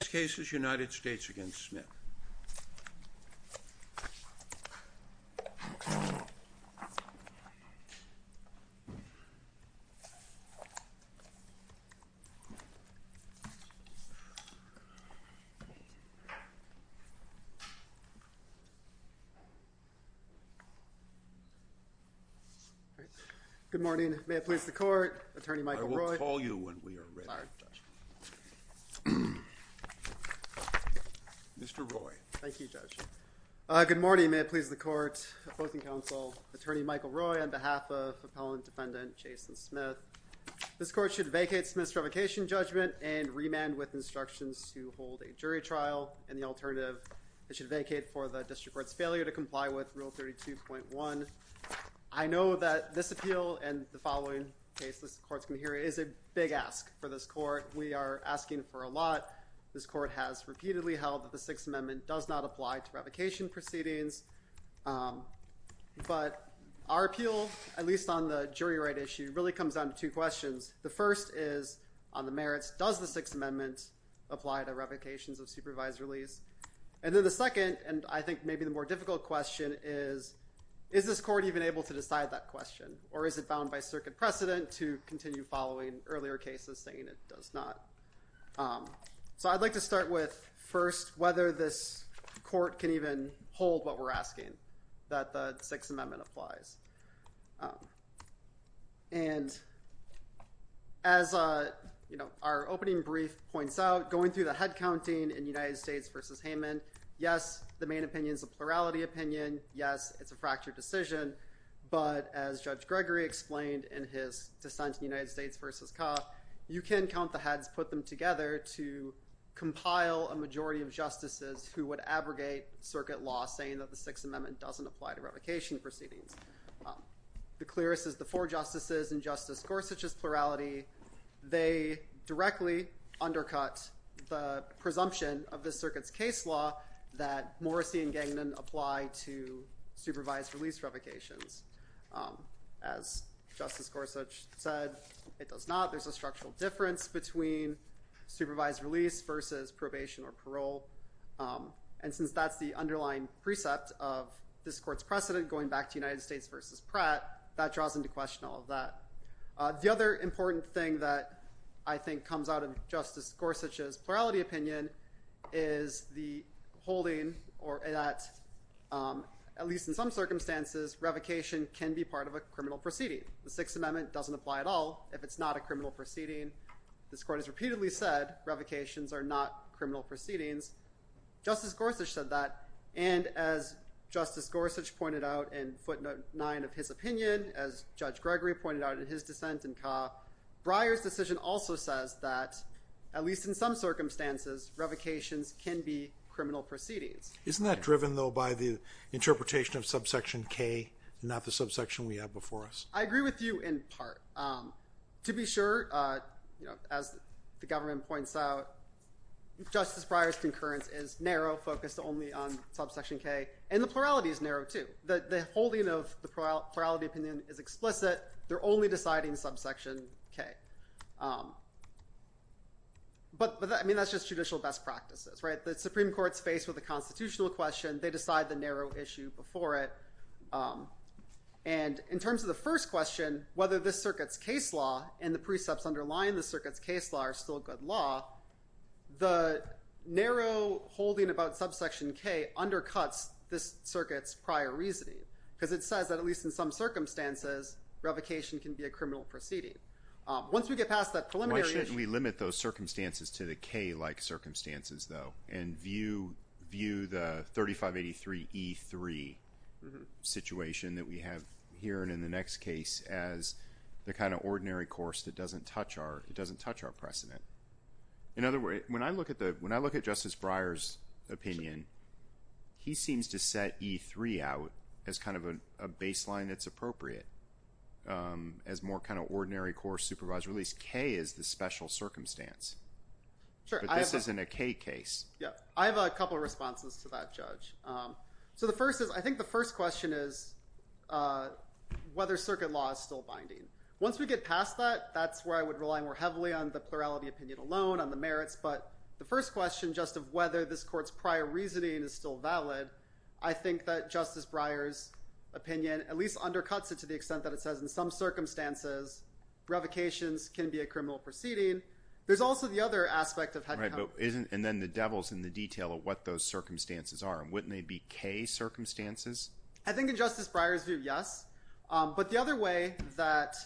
This case is United States v. Smith. Good morning. May I please the court? Attorney Michael Roy. I will call you when we are ready. Mr. Roy. Thank you, Judge. Good morning. May it please the court? Opposing counsel, Attorney Michael Roy on behalf of Appellant Defendant Jason Smith. This court should vacate Smith's revocation judgment and remand with instructions to hold a jury trial and the alternative, it should vacate for the district court's failure to comply with Rule 32.1. I know that this appeal and the following case this court is going to hear is a big ask for this court. We are asking for a lot. This court has repeatedly held that the Sixth Amendment does not apply to revocation proceedings. But our appeal, at least on the jury right issue, really comes down to two questions. The first is on the merits, does the Sixth Amendment apply to revocations of supervised release? And then the second and I think maybe the more difficult question is, is this court even able to decide that question or is it gone by circuit precedent to continue following earlier cases saying it does not? So I'd like to start with first whether this court can even hold what we're asking, that the Sixth Amendment applies. And as our opening brief points out, going through the head counting in United States v. Hayman, yes, the main opinion is a plurality opinion. Yes, it's a fractured decision. But as Judge Gregory explained in his dissent in United States v. Kauff, you can count the heads, put them together to compile a majority of justices who would abrogate circuit law saying that the Sixth Amendment doesn't apply to revocation proceedings. The clearest is the four justices in Justice Gorsuch's plurality. They directly undercut the presumption of this circuit's case law that Morrissey and Gagnon apply to supervised release revocations. As Justice Gorsuch said, it does not. There's a structural difference between supervised release versus probation or parole. And since that's the underlying precept of this court's precedent going back to United States v. Pratt, that draws into question all of that. The other important thing that I think comes out of Justice Gorsuch's plurality opinion is the holding that, at least in some circumstances, revocation can be part of a criminal proceeding. The Sixth Amendment doesn't apply at all if it's not a criminal proceeding. This court has repeatedly said revocations are not criminal proceedings. Justice Gorsuch said that. And as Justice Gorsuch pointed out in footnote 9 of his opinion, as Judge Gregory pointed out in his dissent in Kauff, Breyer's decision also says that, at least in some circumstances, revocations can be criminal proceedings. Isn't that driven, though, by the interpretation of subsection K, not the subsection we have before us? I agree with you in part. To be sure, as the government points out, Justice Breyer's concurrence is narrow, focused only on subsection K. And the plurality is narrow, too. The holding of the plurality opinion is explicit. They're only deciding subsection K. But that's just judicial best practices. The Supreme Court's faced with a constitutional question. They decide the narrow issue before it. And in terms of the first question, whether this circuit's case law and the precepts underlying the circuit's case law are still good law, the narrow holding about subsection K undercuts this circuit's prior reasoning. Because it says that, at least in some circumstances, revocation can be a criminal proceeding. Once we get past that preliminary issue… Why shouldn't we limit those circumstances to the K-like circumstances, though, and view the 3583E3 situation that we have here and in the next case as the kind of ordinary course that doesn't touch our precedent? In other words, when I look at Justice Breyer's opinion, he seems to set E3 out as kind of a baseline that's appropriate as more kind of ordinary course supervised release. K is the special circumstance. But this isn't a K case. I have a couple of responses to that, Judge. So I think the first question is whether circuit law is still binding. Once we get past that, that's where I would rely more heavily on the plurality opinion alone, on the merits. But the first question, just of whether this reasoning is still valid, I think that Justice Breyer's opinion at least undercuts it to the extent that it says, in some circumstances, revocations can be a criminal proceeding. There's also the other aspect of… Right. And then the devil's in the detail of what those circumstances are. And wouldn't they be K circumstances? I think in Justice Breyer's view, yes. But the other way that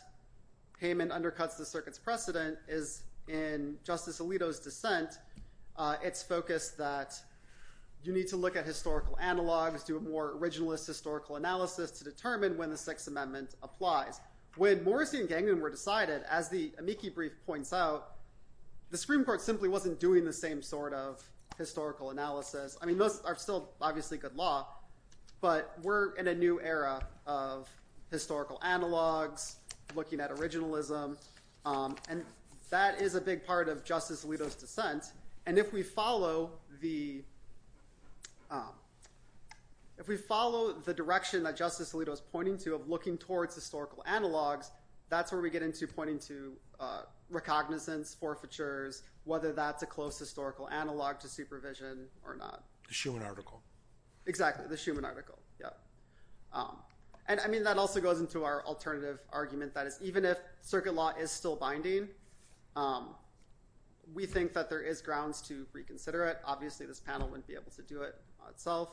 Hayman undercuts the circuit's it's focused that you need to look at historical analogs, do a more originalist historical analysis to determine when the Sixth Amendment applies. When Morrissey and Gangnam were decided, as the amici brief points out, the Supreme Court simply wasn't doing the same sort of historical analysis. I mean, those are still obviously good law, but we're in a new era of historical analogs, looking at originalism. And that is a big part of Justice Alito's argument, to some extent. And if we follow the direction that Justice Alito is pointing to of looking towards historical analogs, that's where we get into pointing to recognizance, forfeitures, whether that's a close historical analog to supervision or not. The Schuman article. Exactly, the Schuman article. And I mean, that also goes into our alternative argument, that is, even if circuit law is still binding, we think that there is grounds to reconsider it. Obviously, this panel wouldn't be able to do it itself.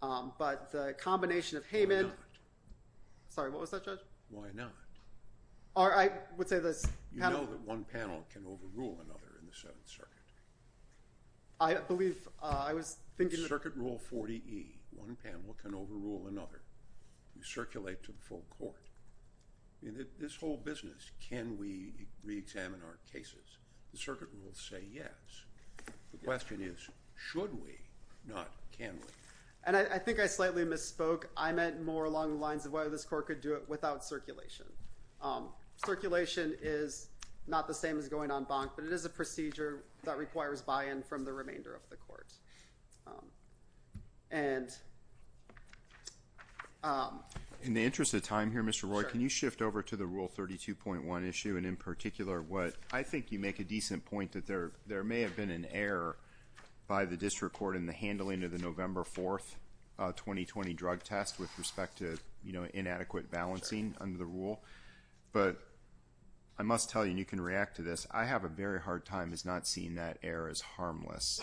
But the combination of Hayman... Why not? Sorry, what was that, Judge? Why not? I would say this panel... You know that one panel can overrule another in the Seventh Circuit. I believe I was thinking... Circuit rule 40E. One panel can overrule another. You circulate to the full court. This whole business, can we reexamine our cases? The circuit rules say yes. The question is, should we, not can we? And I think I slightly misspoke. I meant more along the lines of whether this court could do it without circulation. Circulation is not the same as going en banc, but it is a procedure that requires buy-in from the remainder of the court. And... In the interest of time here, Mr. Roy, can you shift over to the Rule 32.1 issue, and in particular what... I think you make a decent point that there may have been an error by the district court in the handling of the November 4th 2020 drug test with respect to, you know, inadequate balancing under the rule. But I must tell you, and you can react to this, I have a very hard time as not seeing that error as harmless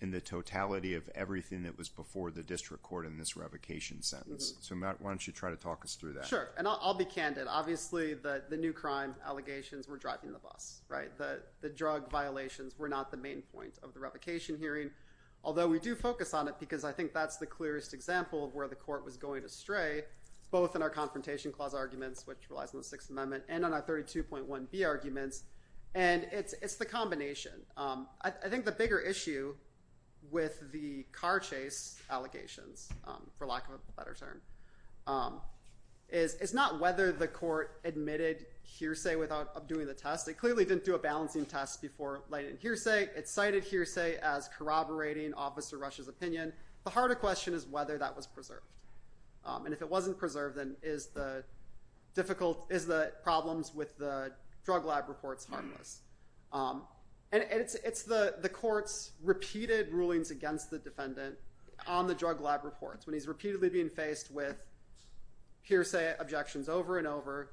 in the totality of everything that was before the district court in this revocation sentence. So Matt, why don't you try to talk us through that? Sure, and I'll be candid. Obviously, the new crime allegations were driving the bus, right? The drug violations were not the main point of the revocation hearing, although we do focus on it because I think that's the clearest example of where the court was going astray, both in our Confrontation Clause arguments, which relies on the Sixth Amendment, and on our 32.1B arguments. And it's the combination. I think the bigger issue with the car chase allegations, for lack of a better term, is not whether the court admitted hearsay without doing the test. It clearly didn't do a balancing test before lighting hearsay. It cited hearsay as corroborating Officer Rush's opinion. The harder question is whether that was preserved. And if it wasn't preserved, then is the problems with the drug lab reports harmless? And it's the court's repeated rulings against the defendant on the drug lab reports, when he's repeatedly being faced with hearsay objections over and over.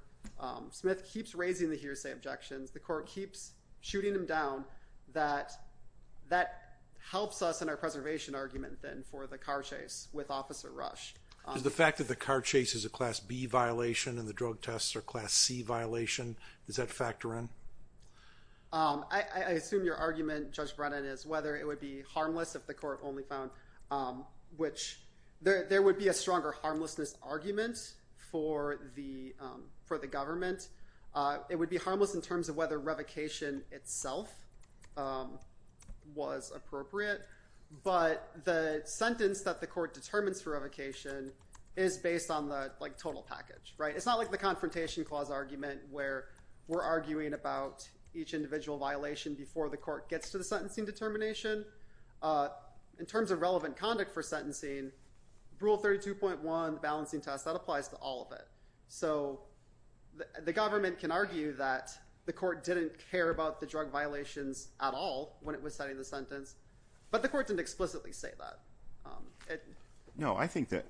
Smith keeps raising the hearsay objections. The court keeps shooting him down. That helps us in our preservation argument, then, for the car chase with Officer Rush. Is the fact that the car chase is a Class B violation and the drug tests are a Class C violation, does that factor in? I assume your argument, Judge Brennan, is whether it would be harmless if the court only found, which there would be a stronger harmlessness argument for the government. It would be harmless in terms of whether revocation itself was appropriate. But the sentence that the court determines for revocation is based on the total package. It's not like the confrontation clause argument where we're arguing about each individual violation before the court gets to the sentencing determination. In terms of relevant conduct for sentencing, Rule 32.1, the balancing test, that applies to all of it. So the government can argue that the court didn't care about the drug violations at all when it was setting the sentence, but the court didn't explicitly say that. No, I think to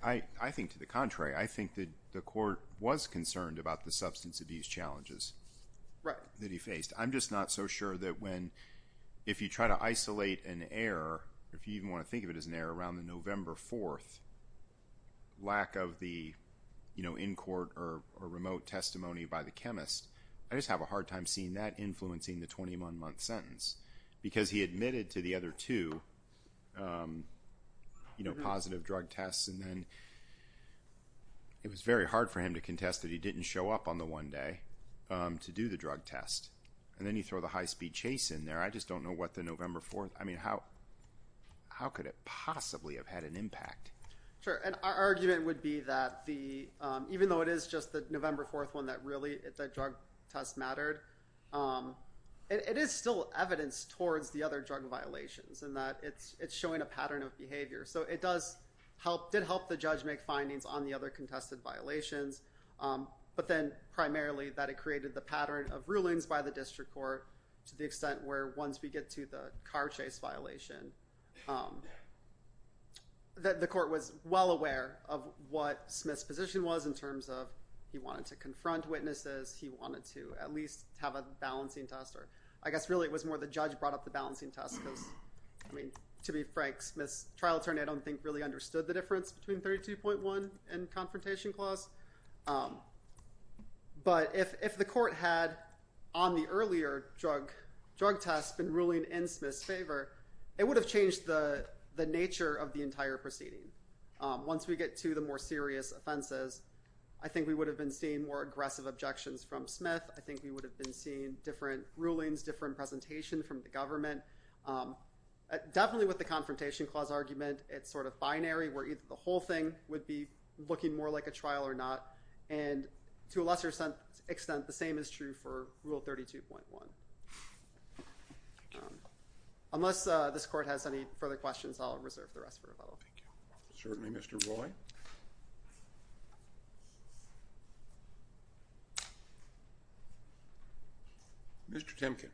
the contrary. I think that the court was concerned about the substance abuse challenges that he faced. I'm just not so sure that when, if you try to isolate an error, if you even want to think of it as an error, around the November 4th lack of the in-court or remote testimony by the chemist, I just have a hard time seeing that influencing the 21-month sentence. Because he admitted to the other two positive drug tests, and then it was very hard for him to contest that he didn't show up on the one day to do the drug test. And then you throw the high-speed chase in there. I just don't know what the November 4th, I mean, how could it possibly have had an impact? Sure, and our argument would be that even though it is just the November 4th one that really the drug test mattered, it is still evidence towards the other drug violations in that it's showing a pattern of behavior. So it did help the judge make findings on the other contested violations, but then primarily that it created the pattern of rulings by the district court to the extent where once we get to the car chase violation, the court was well aware of what Smith's position was in terms of he wanted to confront witnesses, he wanted to at least have a balancing test. I guess really it was more the judge brought up the balancing test because, I mean, to be frank, Smith's trial attorney I don't think really understood the difference between 32.1 and confrontation clause. But if the court had, on the earlier drug test, been ruling in Smith's favor, it would have changed the nature of the entire proceeding. Once we get to the more serious offenses, I think we would have been seeing more aggressive objections from Smith. I think we would have been seeing different rulings, different presentation from the government. Definitely with the confrontation clause argument, it's sort of binary, where either the whole thing would be looking more like a trial or not. And to a lesser extent, the same is true for Rule 32.1. Unless this court has any further questions, I'll reserve the rest for rebuttal. Thank you. Certainly, Mr. Roy. Mr. Timken.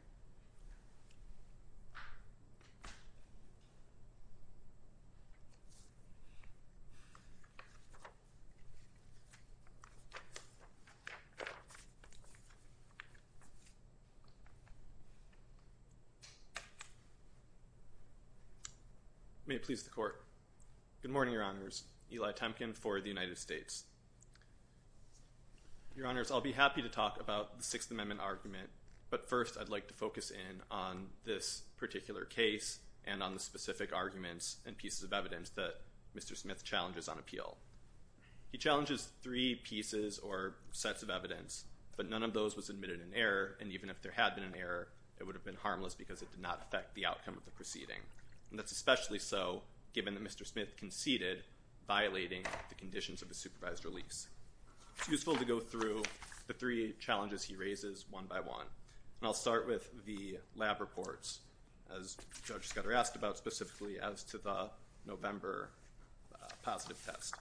May it please the court. Good morning, Your Honors. Eli Timken for the United States. Your Honors, I'll be happy to talk about the Sixth Amendment argument, but first I'd like to focus in on this particular case and on the specific arguments and pieces of evidence that Mr. Smith challenges on appeal. He challenges three pieces or sets of evidence, but none of those was admitted in error, and even if there had been an error, it would have been harmless because it did not affect the outcome of the proceeding. And that's especially so given that Mr. Smith conceded, violating the conditions of the supervised release. It's useful to go through the three challenges he raises one by one, and I'll start with the lab reports as Judge Scudder asked about specifically as to the November positive test.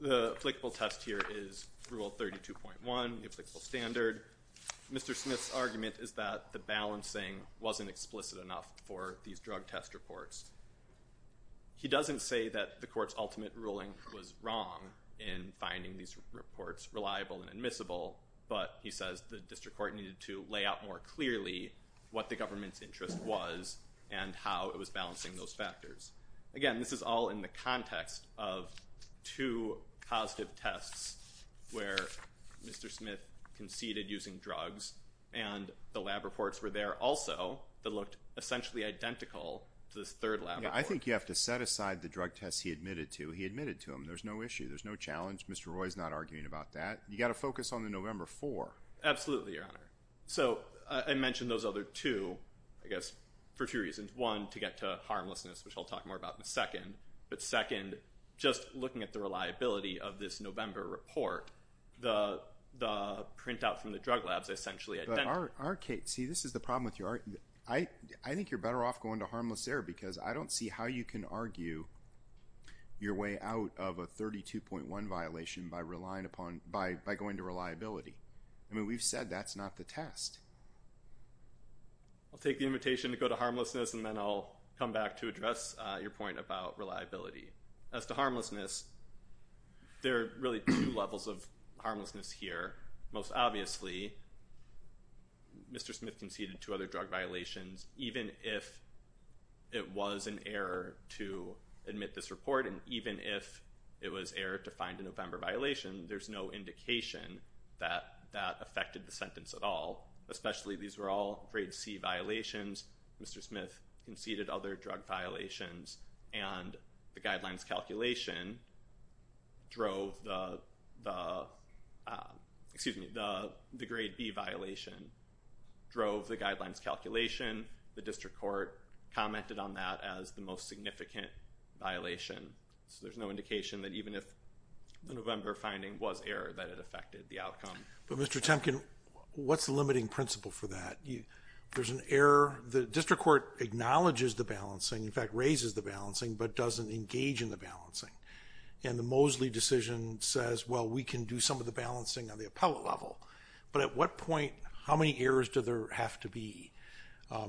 The applicable test here is Rule 32.1, the applicable standard. Mr. Smith's argument is that the balancing wasn't explicit enough for these drug test reports. He doesn't say that the court's ultimate ruling was wrong in finding these reports reliable and admissible, but he says the district court needed to lay out more clearly what the government's interest was and how it was balancing those factors. Again, this is all in the context of two positive tests where Mr. Smith conceded using drugs, and the lab reports were there also that looked essentially identical to this third lab report. Yeah, I think you have to set aside the drug tests he admitted to. He admitted to them. There's no issue. There's no challenge. Mr. Roy is not arguing about that. You've got to focus on the November 4. Absolutely, Your Honor. So I mentioned those other two, I guess, for a few reasons. One, to get to harmlessness, which I'll talk more about in a second, but second, just looking at the reliability of this November report, the printout from the drug labs essentially identical. But our case, see, this is the problem with your argument. I think you're better off going to harmless error because I don't see how you can argue your way out of a 32.1 violation by going to reliability. I mean, we've said that's not the test. I'll take the invitation to go to harmlessness, and then I'll come back to address your point about reliability. As to harmlessness, there are really two levels of harmlessness here. Most obviously, Mr. Smith conceded two other drug violations, even if it was an error to admit this report, and even if it was error to find a November violation, there's no indication that that affected the sentence at all. Especially these were all grade C violations. Mr. Smith conceded other drug violations, and the guidelines calculation drove the grade B violation, drove the guidelines calculation. The district court commented on that as the most significant violation. So there's no indication that even if the November finding was error that it affected the outcome. But, Mr. Temkin, what's the limiting principle for that? There's an error. The district court acknowledges the balancing, in fact, raises the balancing, but doesn't engage in the balancing. And the Mosley decision says, well, we can do some of the balancing on the appellate level. But at what point, how many errors do there have to be?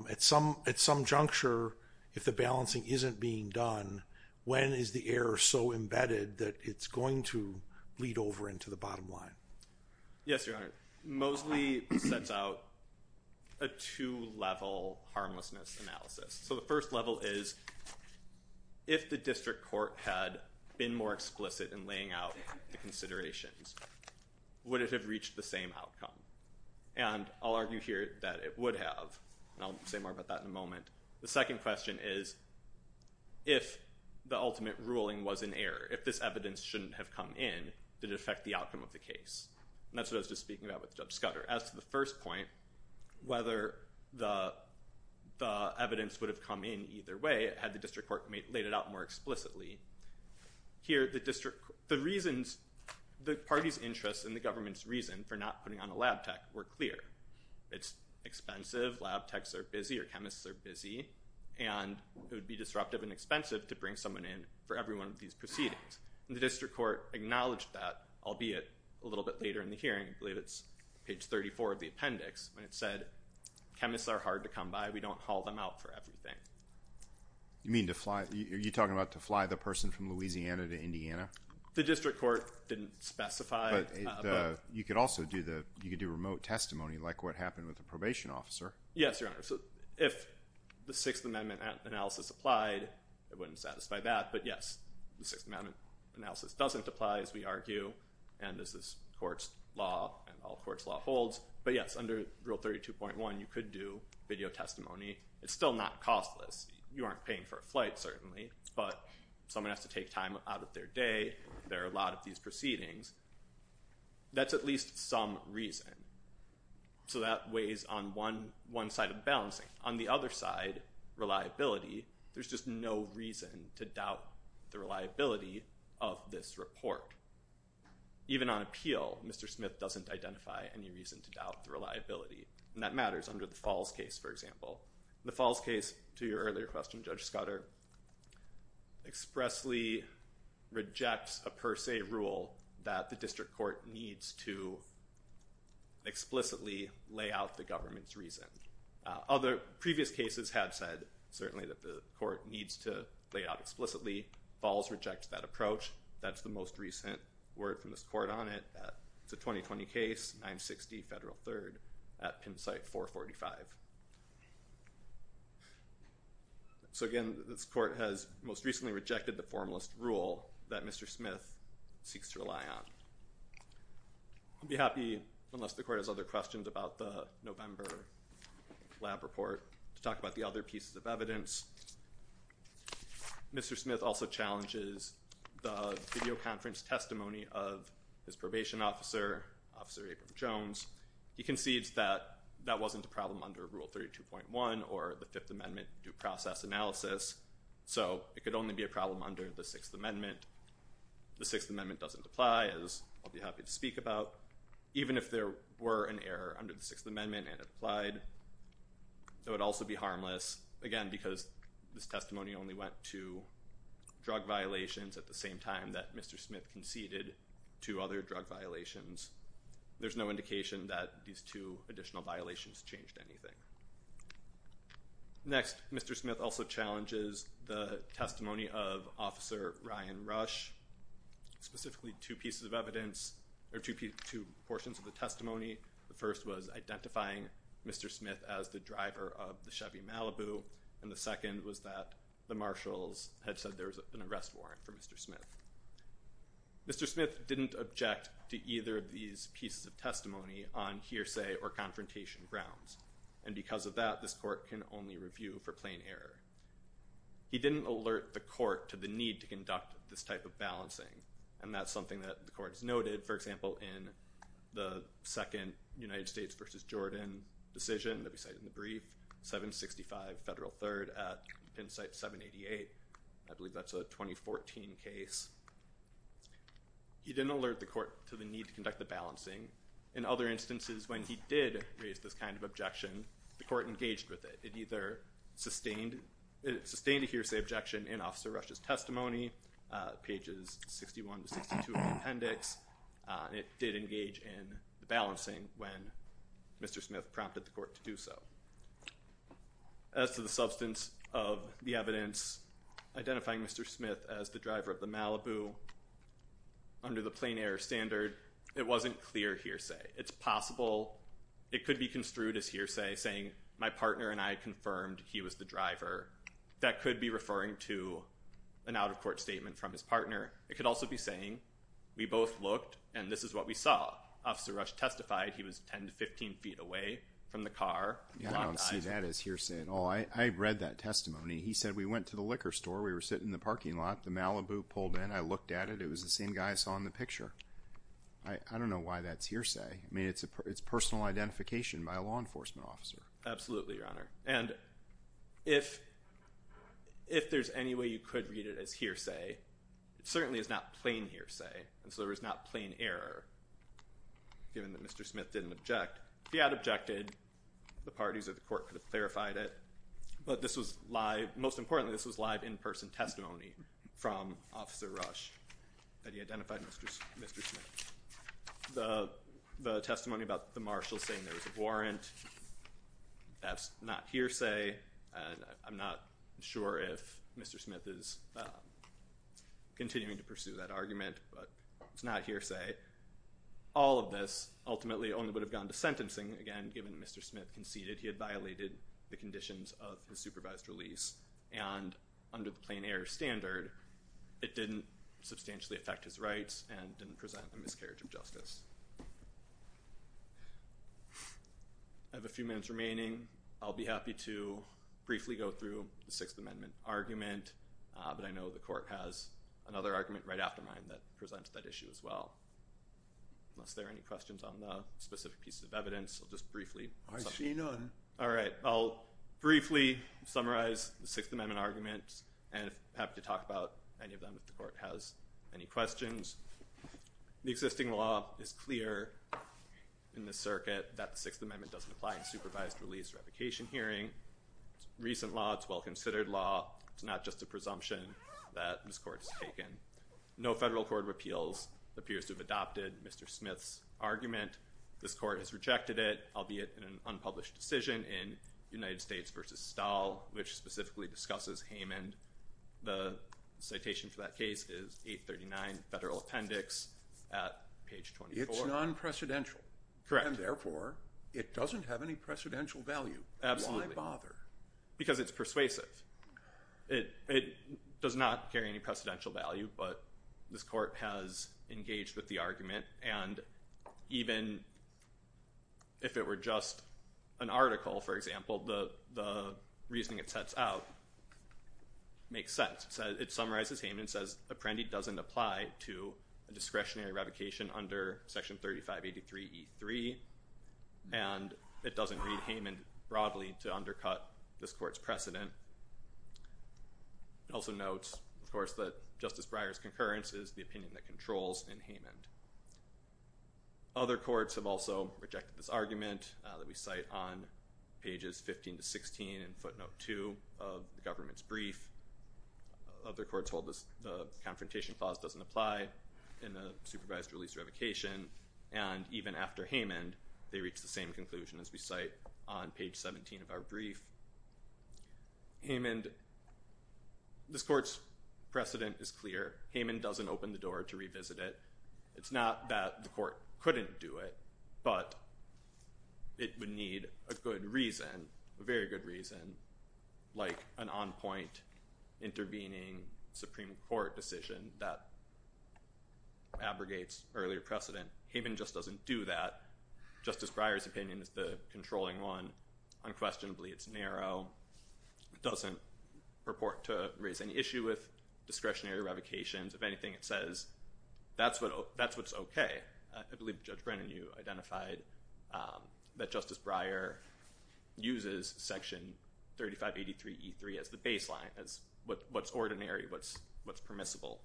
At some juncture, if the balancing isn't being done, when is the error so embedded that it's going to bleed over into the bottom line? Yes, Your Honor. Mosley sets out a two-level harmlessness analysis. So the first level is, if the district court had been more explicit in laying out the considerations, would it have reached the same outcome? And I'll argue here that it would have. And I'll say more about that in a moment. The second question is, if the ultimate ruling was an error, if this evidence shouldn't have come in, did it affect the outcome of the case? And that's what I was just speaking about with Judge Scudder. As to the first point, whether the evidence would have come in either way, had the district court laid it out more explicitly, here the party's interest and the government's reason for not putting on a lab tech were clear. It's expensive, lab techs are busy, or chemists are busy, and it would be disruptive and expensive to bring someone in for every one of these proceedings. And the district court acknowledged that, albeit a little bit later in the hearing, I believe it's page 34 of the appendix, when it said, chemists are hard to come by, we don't call them out for everything. You mean to fly? Are you talking about to fly the person from Louisiana to Indiana? The district court didn't specify. You could also do remote testimony, like what happened with the probation officer. Yes, Your Honor. If the Sixth Amendment analysis applied, it wouldn't satisfy that. But, yes, the Sixth Amendment analysis doesn't apply, as we argue, and this is court's law and all court's law holds. But, yes, under Rule 32.1, you could do video testimony. It's still not costless. You aren't paying for a flight, certainly, but someone has to take time out of their day. There are a lot of these proceedings. That's at least some reason. So that weighs on one side of the balance. On the other side, reliability. There's just no reason to doubt the reliability of this report. Even on appeal, Mr. Smith doesn't identify any reason to doubt the reliability, and that matters under the Falls case, for example. The Falls case, to your earlier question, Judge Scudder, expressly rejects a per se rule that the district court needs to explicitly lay out the government's reason. Other previous cases have said, certainly, that the court needs to lay out explicitly. Falls rejects that approach. That's the most recent word from this court on it. It's a 2020 case, 960 Federal 3rd, at pin site 445. So, again, this court has most recently rejected the formalist rule that Mr. Smith seeks to rely on. I'd be happy, unless the court has other questions about the November lab report, to talk about the other pieces of evidence. Mr. Smith also challenges the videoconference testimony of his probation officer, Officer Abram-Jones. He concedes that that wasn't a problem under Rule 32.1 or the Fifth Amendment due process analysis, so it could only be a problem under the Sixth Amendment. The Sixth Amendment doesn't apply, as I'll be happy to speak about. Even if there were an error under the Sixth Amendment and it applied, it would also be harmless, again, because this testimony only went to drug violations at the same time that Mr. Smith conceded two other drug violations. There's no indication that these two additional violations changed anything. Next, Mr. Smith also challenges the testimony of Officer Ryan Rush, specifically two pieces of evidence, or two portions of the testimony. The first was identifying Mr. Smith as the driver of the Chevy Malibu, and the second was that the marshals had said there was an arrest warrant for Mr. Smith. Mr. Smith didn't object to either of these pieces of testimony on hearsay or confrontation grounds, and because of that, this court can only review for plain error. He didn't alert the court to the need to conduct this type of balancing, and that's something that the court has noted, for example, in the second United States v. Jordan decision that we cite in the brief, 765 Federal 3rd at Penn Site 788. I believe that's a 2014 case. He didn't alert the court to the need to conduct the balancing. In other instances, when he did raise this kind of objection, the court engaged with it. It either sustained a hearsay objection in Officer Rush's testimony, pages 61 to 62 of the appendix, and it did engage in the balancing when Mr. Smith prompted the court to do so. As to the substance of the evidence identifying Mr. Smith as the driver of the Malibu, under the plain error standard, it wasn't clear hearsay. It's possible it could be construed as hearsay, saying my partner and I confirmed he was the driver. That could be referring to an out-of-court statement from his partner. It could also be saying we both looked, and this is what we saw. Officer Rush testified he was 10 to 15 feet away from the car. I don't see that as hearsay at all. I read that testimony. He said we went to the liquor store. We were sitting in the parking lot. The Malibu pulled in. I looked at it. It was the same guy I saw in the picture. I don't know why that's hearsay. I mean, it's personal identification by a law enforcement officer. Absolutely, Your Honor. And if there's any way you could read it as hearsay, it certainly is not plain hearsay, and so there was not plain error, given that Mr. Smith didn't object. If he had objected, the parties of the court could have clarified it. But this was live. Most importantly, this was live in-person testimony from Officer Rush that he identified Mr. Smith. The testimony about the marshal saying there was a warrant, that's not hearsay. I'm not sure if Mr. Smith is continuing to pursue that argument, but it's not hearsay. All of this ultimately only would have gone to sentencing, again, given that Mr. Smith conceded he had violated the conditions of his supervised release, and under the plain error standard, it didn't substantially affect his rights and didn't present a miscarriage of justice. I have a few minutes remaining. I'll be happy to briefly go through the Sixth Amendment argument, but I know the court has another argument right after mine that presents that issue as well. Unless there are any questions on the specific pieces of evidence, I'll just briefly. I see none. All right. I'll briefly summarize the Sixth Amendment argument, and I'm happy to talk about any of them if the court has any questions. The existing law is clear in this circuit that the Sixth Amendment doesn't apply in supervised release revocation hearing. It's a recent law. It's a well-considered law. It's not just a presumption that this court has taken. No federal court of appeals appears to have adopted Mr. Smith's argument. This court has rejected it, albeit in an unpublished decision in United States v. Stahl, which specifically discusses Haman. The citation for that case is 839 Federal Appendix at page 24. It's non-precedential. Correct. And, therefore, it doesn't have any precedential value. Absolutely. Why bother? Because it's persuasive. It does not carry any precedential value, but this court has engaged with the argument, and even if it were just an article, for example, the reasoning it sets out makes sense. It summarizes Haman. It says Apprendi doesn't apply to a discretionary revocation under Section 3583E3, and it doesn't read Haman broadly to undercut this court's precedent. It also notes, of course, that Justice Breyer's concurrence is the opinion that controls in Haman. Other courts have also rejected this argument that we cite on pages 15 to 16 in footnote 2 of the government's brief. Other courts hold the confrontation clause doesn't apply in a supervised release revocation, and even after Haman, they reach the same conclusion as we cite on page 17 of our brief. Haman, this court's precedent is clear. Haman doesn't open the door to revisit it. It's not that the court couldn't do it, but it would need a good reason, a very good reason, like an on-point intervening Supreme Court decision that abrogates earlier precedent. Haman just doesn't do that. Justice Breyer's opinion is the controlling one. Unquestionably, it's narrow. It doesn't purport to raise any issue with discretionary revocations. If anything, it says that's what's okay. I believe Judge Brennan, you identified that Justice Breyer uses Section 3583E3 as the baseline, as what's ordinary, what's permissible.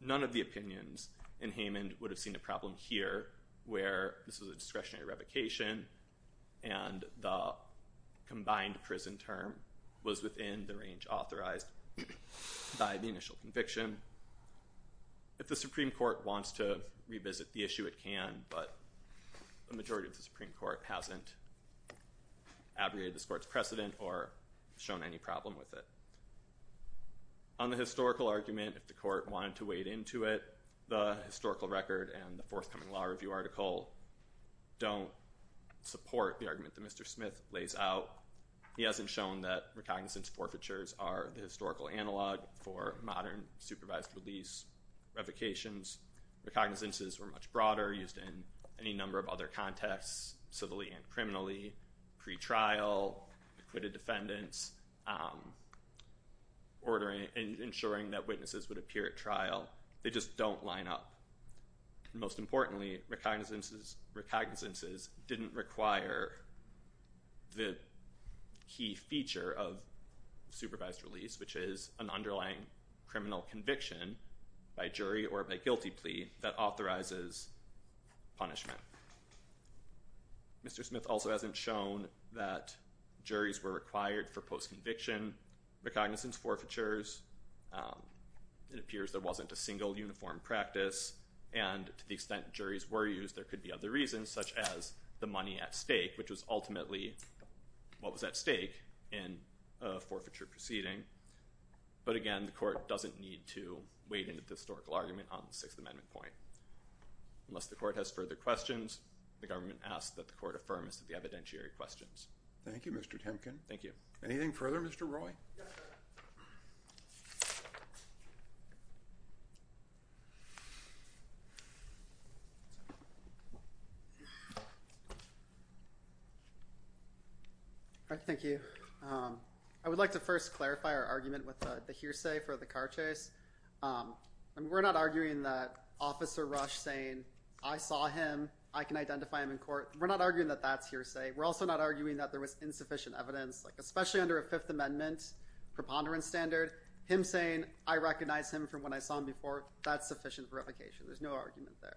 None of the opinions in Haman would have seen a problem here where this was a discretionary revocation and the combined prison term was within the range authorized by the initial conviction. If the Supreme Court wants to revisit the issue, it can, but the majority of the Supreme Court hasn't abrogated this court's precedent or shown any problem with it. On the historical argument, if the court wanted to wade into it, the historical record and the forthcoming law review article don't support the argument that Mr. Smith lays out. He hasn't shown that recognizance forfeitures are the historical analog for modern supervised release revocations. Recognizances were much broader, used in any number of other contexts, civilly and criminally, pretrial, acquitted defendants, ordering and ensuring that witnesses would appear at trial. They just don't line up. Most importantly, recognizances didn't require the key feature of supervised release, which is an underlying criminal conviction by jury or by guilty plea that authorizes punishment. Mr. Smith also hasn't shown that juries were required for post-conviction recognizance forfeitures. It appears there wasn't a single uniform practice, and to the extent juries were used, there could be other reasons, such as the money at stake, which was ultimately what was at stake in a forfeiture proceeding. But again, the court doesn't need to wade into the historical argument on the Sixth Amendment point. Unless the court has further questions, the government asks that the court affirm the evidentiary questions. Thank you, Mr. Temkin. Thank you. Anything further, Mr. Roy? Yeah. Thank you. I would like to first clarify our argument with the hearsay for the car chase. We're not arguing that Officer Rush saying, I saw him, I can identify him in court. We're not arguing that that's hearsay. We're also not arguing that there was insufficient evidence, especially under a Fifth Amendment preponderance standard. Him saying, I recognize him from when I saw him before, that's sufficient verification. There's no argument there.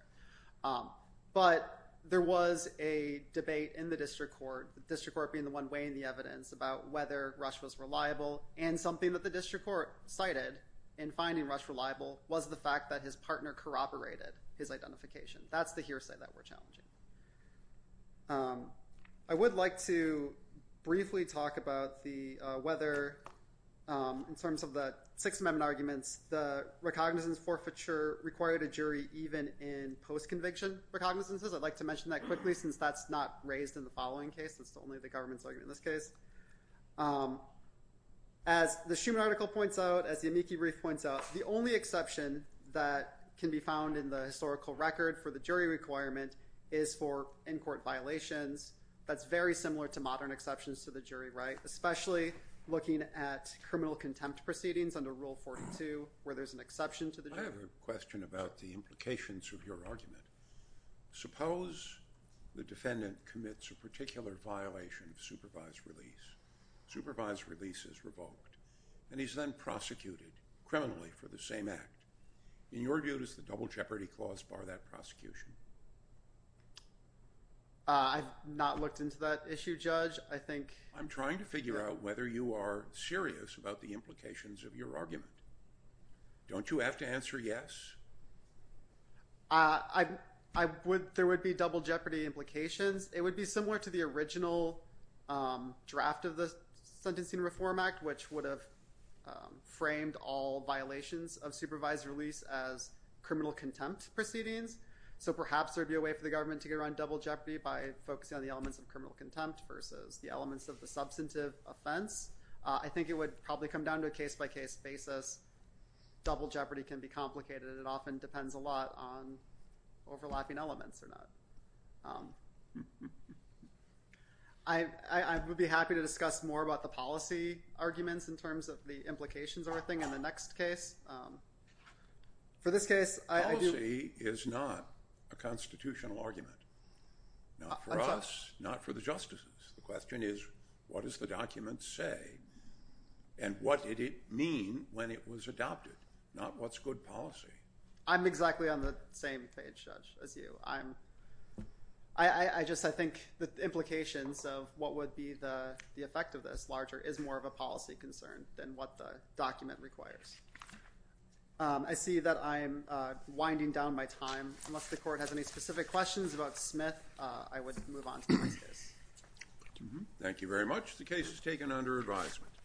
But there was a debate in the district court, the district court being the one weighing the evidence about whether Rush was reliable, and something that the district court cited in finding Rush reliable was the fact that his partner corroborated his identification. That's the hearsay that we're challenging. I would like to briefly talk about whether, in terms of the Sixth Amendment arguments, the recognizance forfeiture required a jury even in post-conviction recognizances. I'd like to mention that quickly since that's not raised in the following case. It's only the government's argument in this case. As the Schuman article points out, as the amici brief points out, the only exception that can be found in the historical record for the jury requirement is for in-court violations. That's very similar to modern exceptions to the jury right, especially looking at criminal contempt proceedings under Rule 42 where there's an exception to the jury. I have a question about the implications of your argument. Suppose the defendant commits a particular violation of supervised release. Supervised release is revoked, and he's then prosecuted criminally for the same act. In your view, does the Double Jeopardy Clause bar that prosecution? I've not looked into that issue, Judge. I think— I'm trying to figure out whether you are serious about the implications of your argument. Don't you have to answer yes? There would be double jeopardy implications. It would be similar to the original draft of the Sentencing Reform Act, which would have framed all violations of supervised release as criminal contempt proceedings. So perhaps there would be a way for the government to get around double jeopardy by focusing on the elements of criminal contempt versus the elements of the substantive offense. I think it would probably come down to a case-by-case basis. Double jeopardy can be complicated. It often depends a lot on overlapping elements or not. I would be happy to discuss more about the policy arguments in terms of the implications of everything in the next case. For this case, I do— Policy is not a constitutional argument. Not for us. Not for the justices. The question is what does the document say, and what did it mean when it was adopted? Not what's good policy. I'm exactly on the same page, Judge, as you. I'm—I just—I think the implications of what would be the effect of this larger is more of a policy concern than what the document requires. I see that I'm winding down my time. Unless the Court has any specific questions about Smith, I would move on to the next case. Thank you very much. The case is taken under advisement.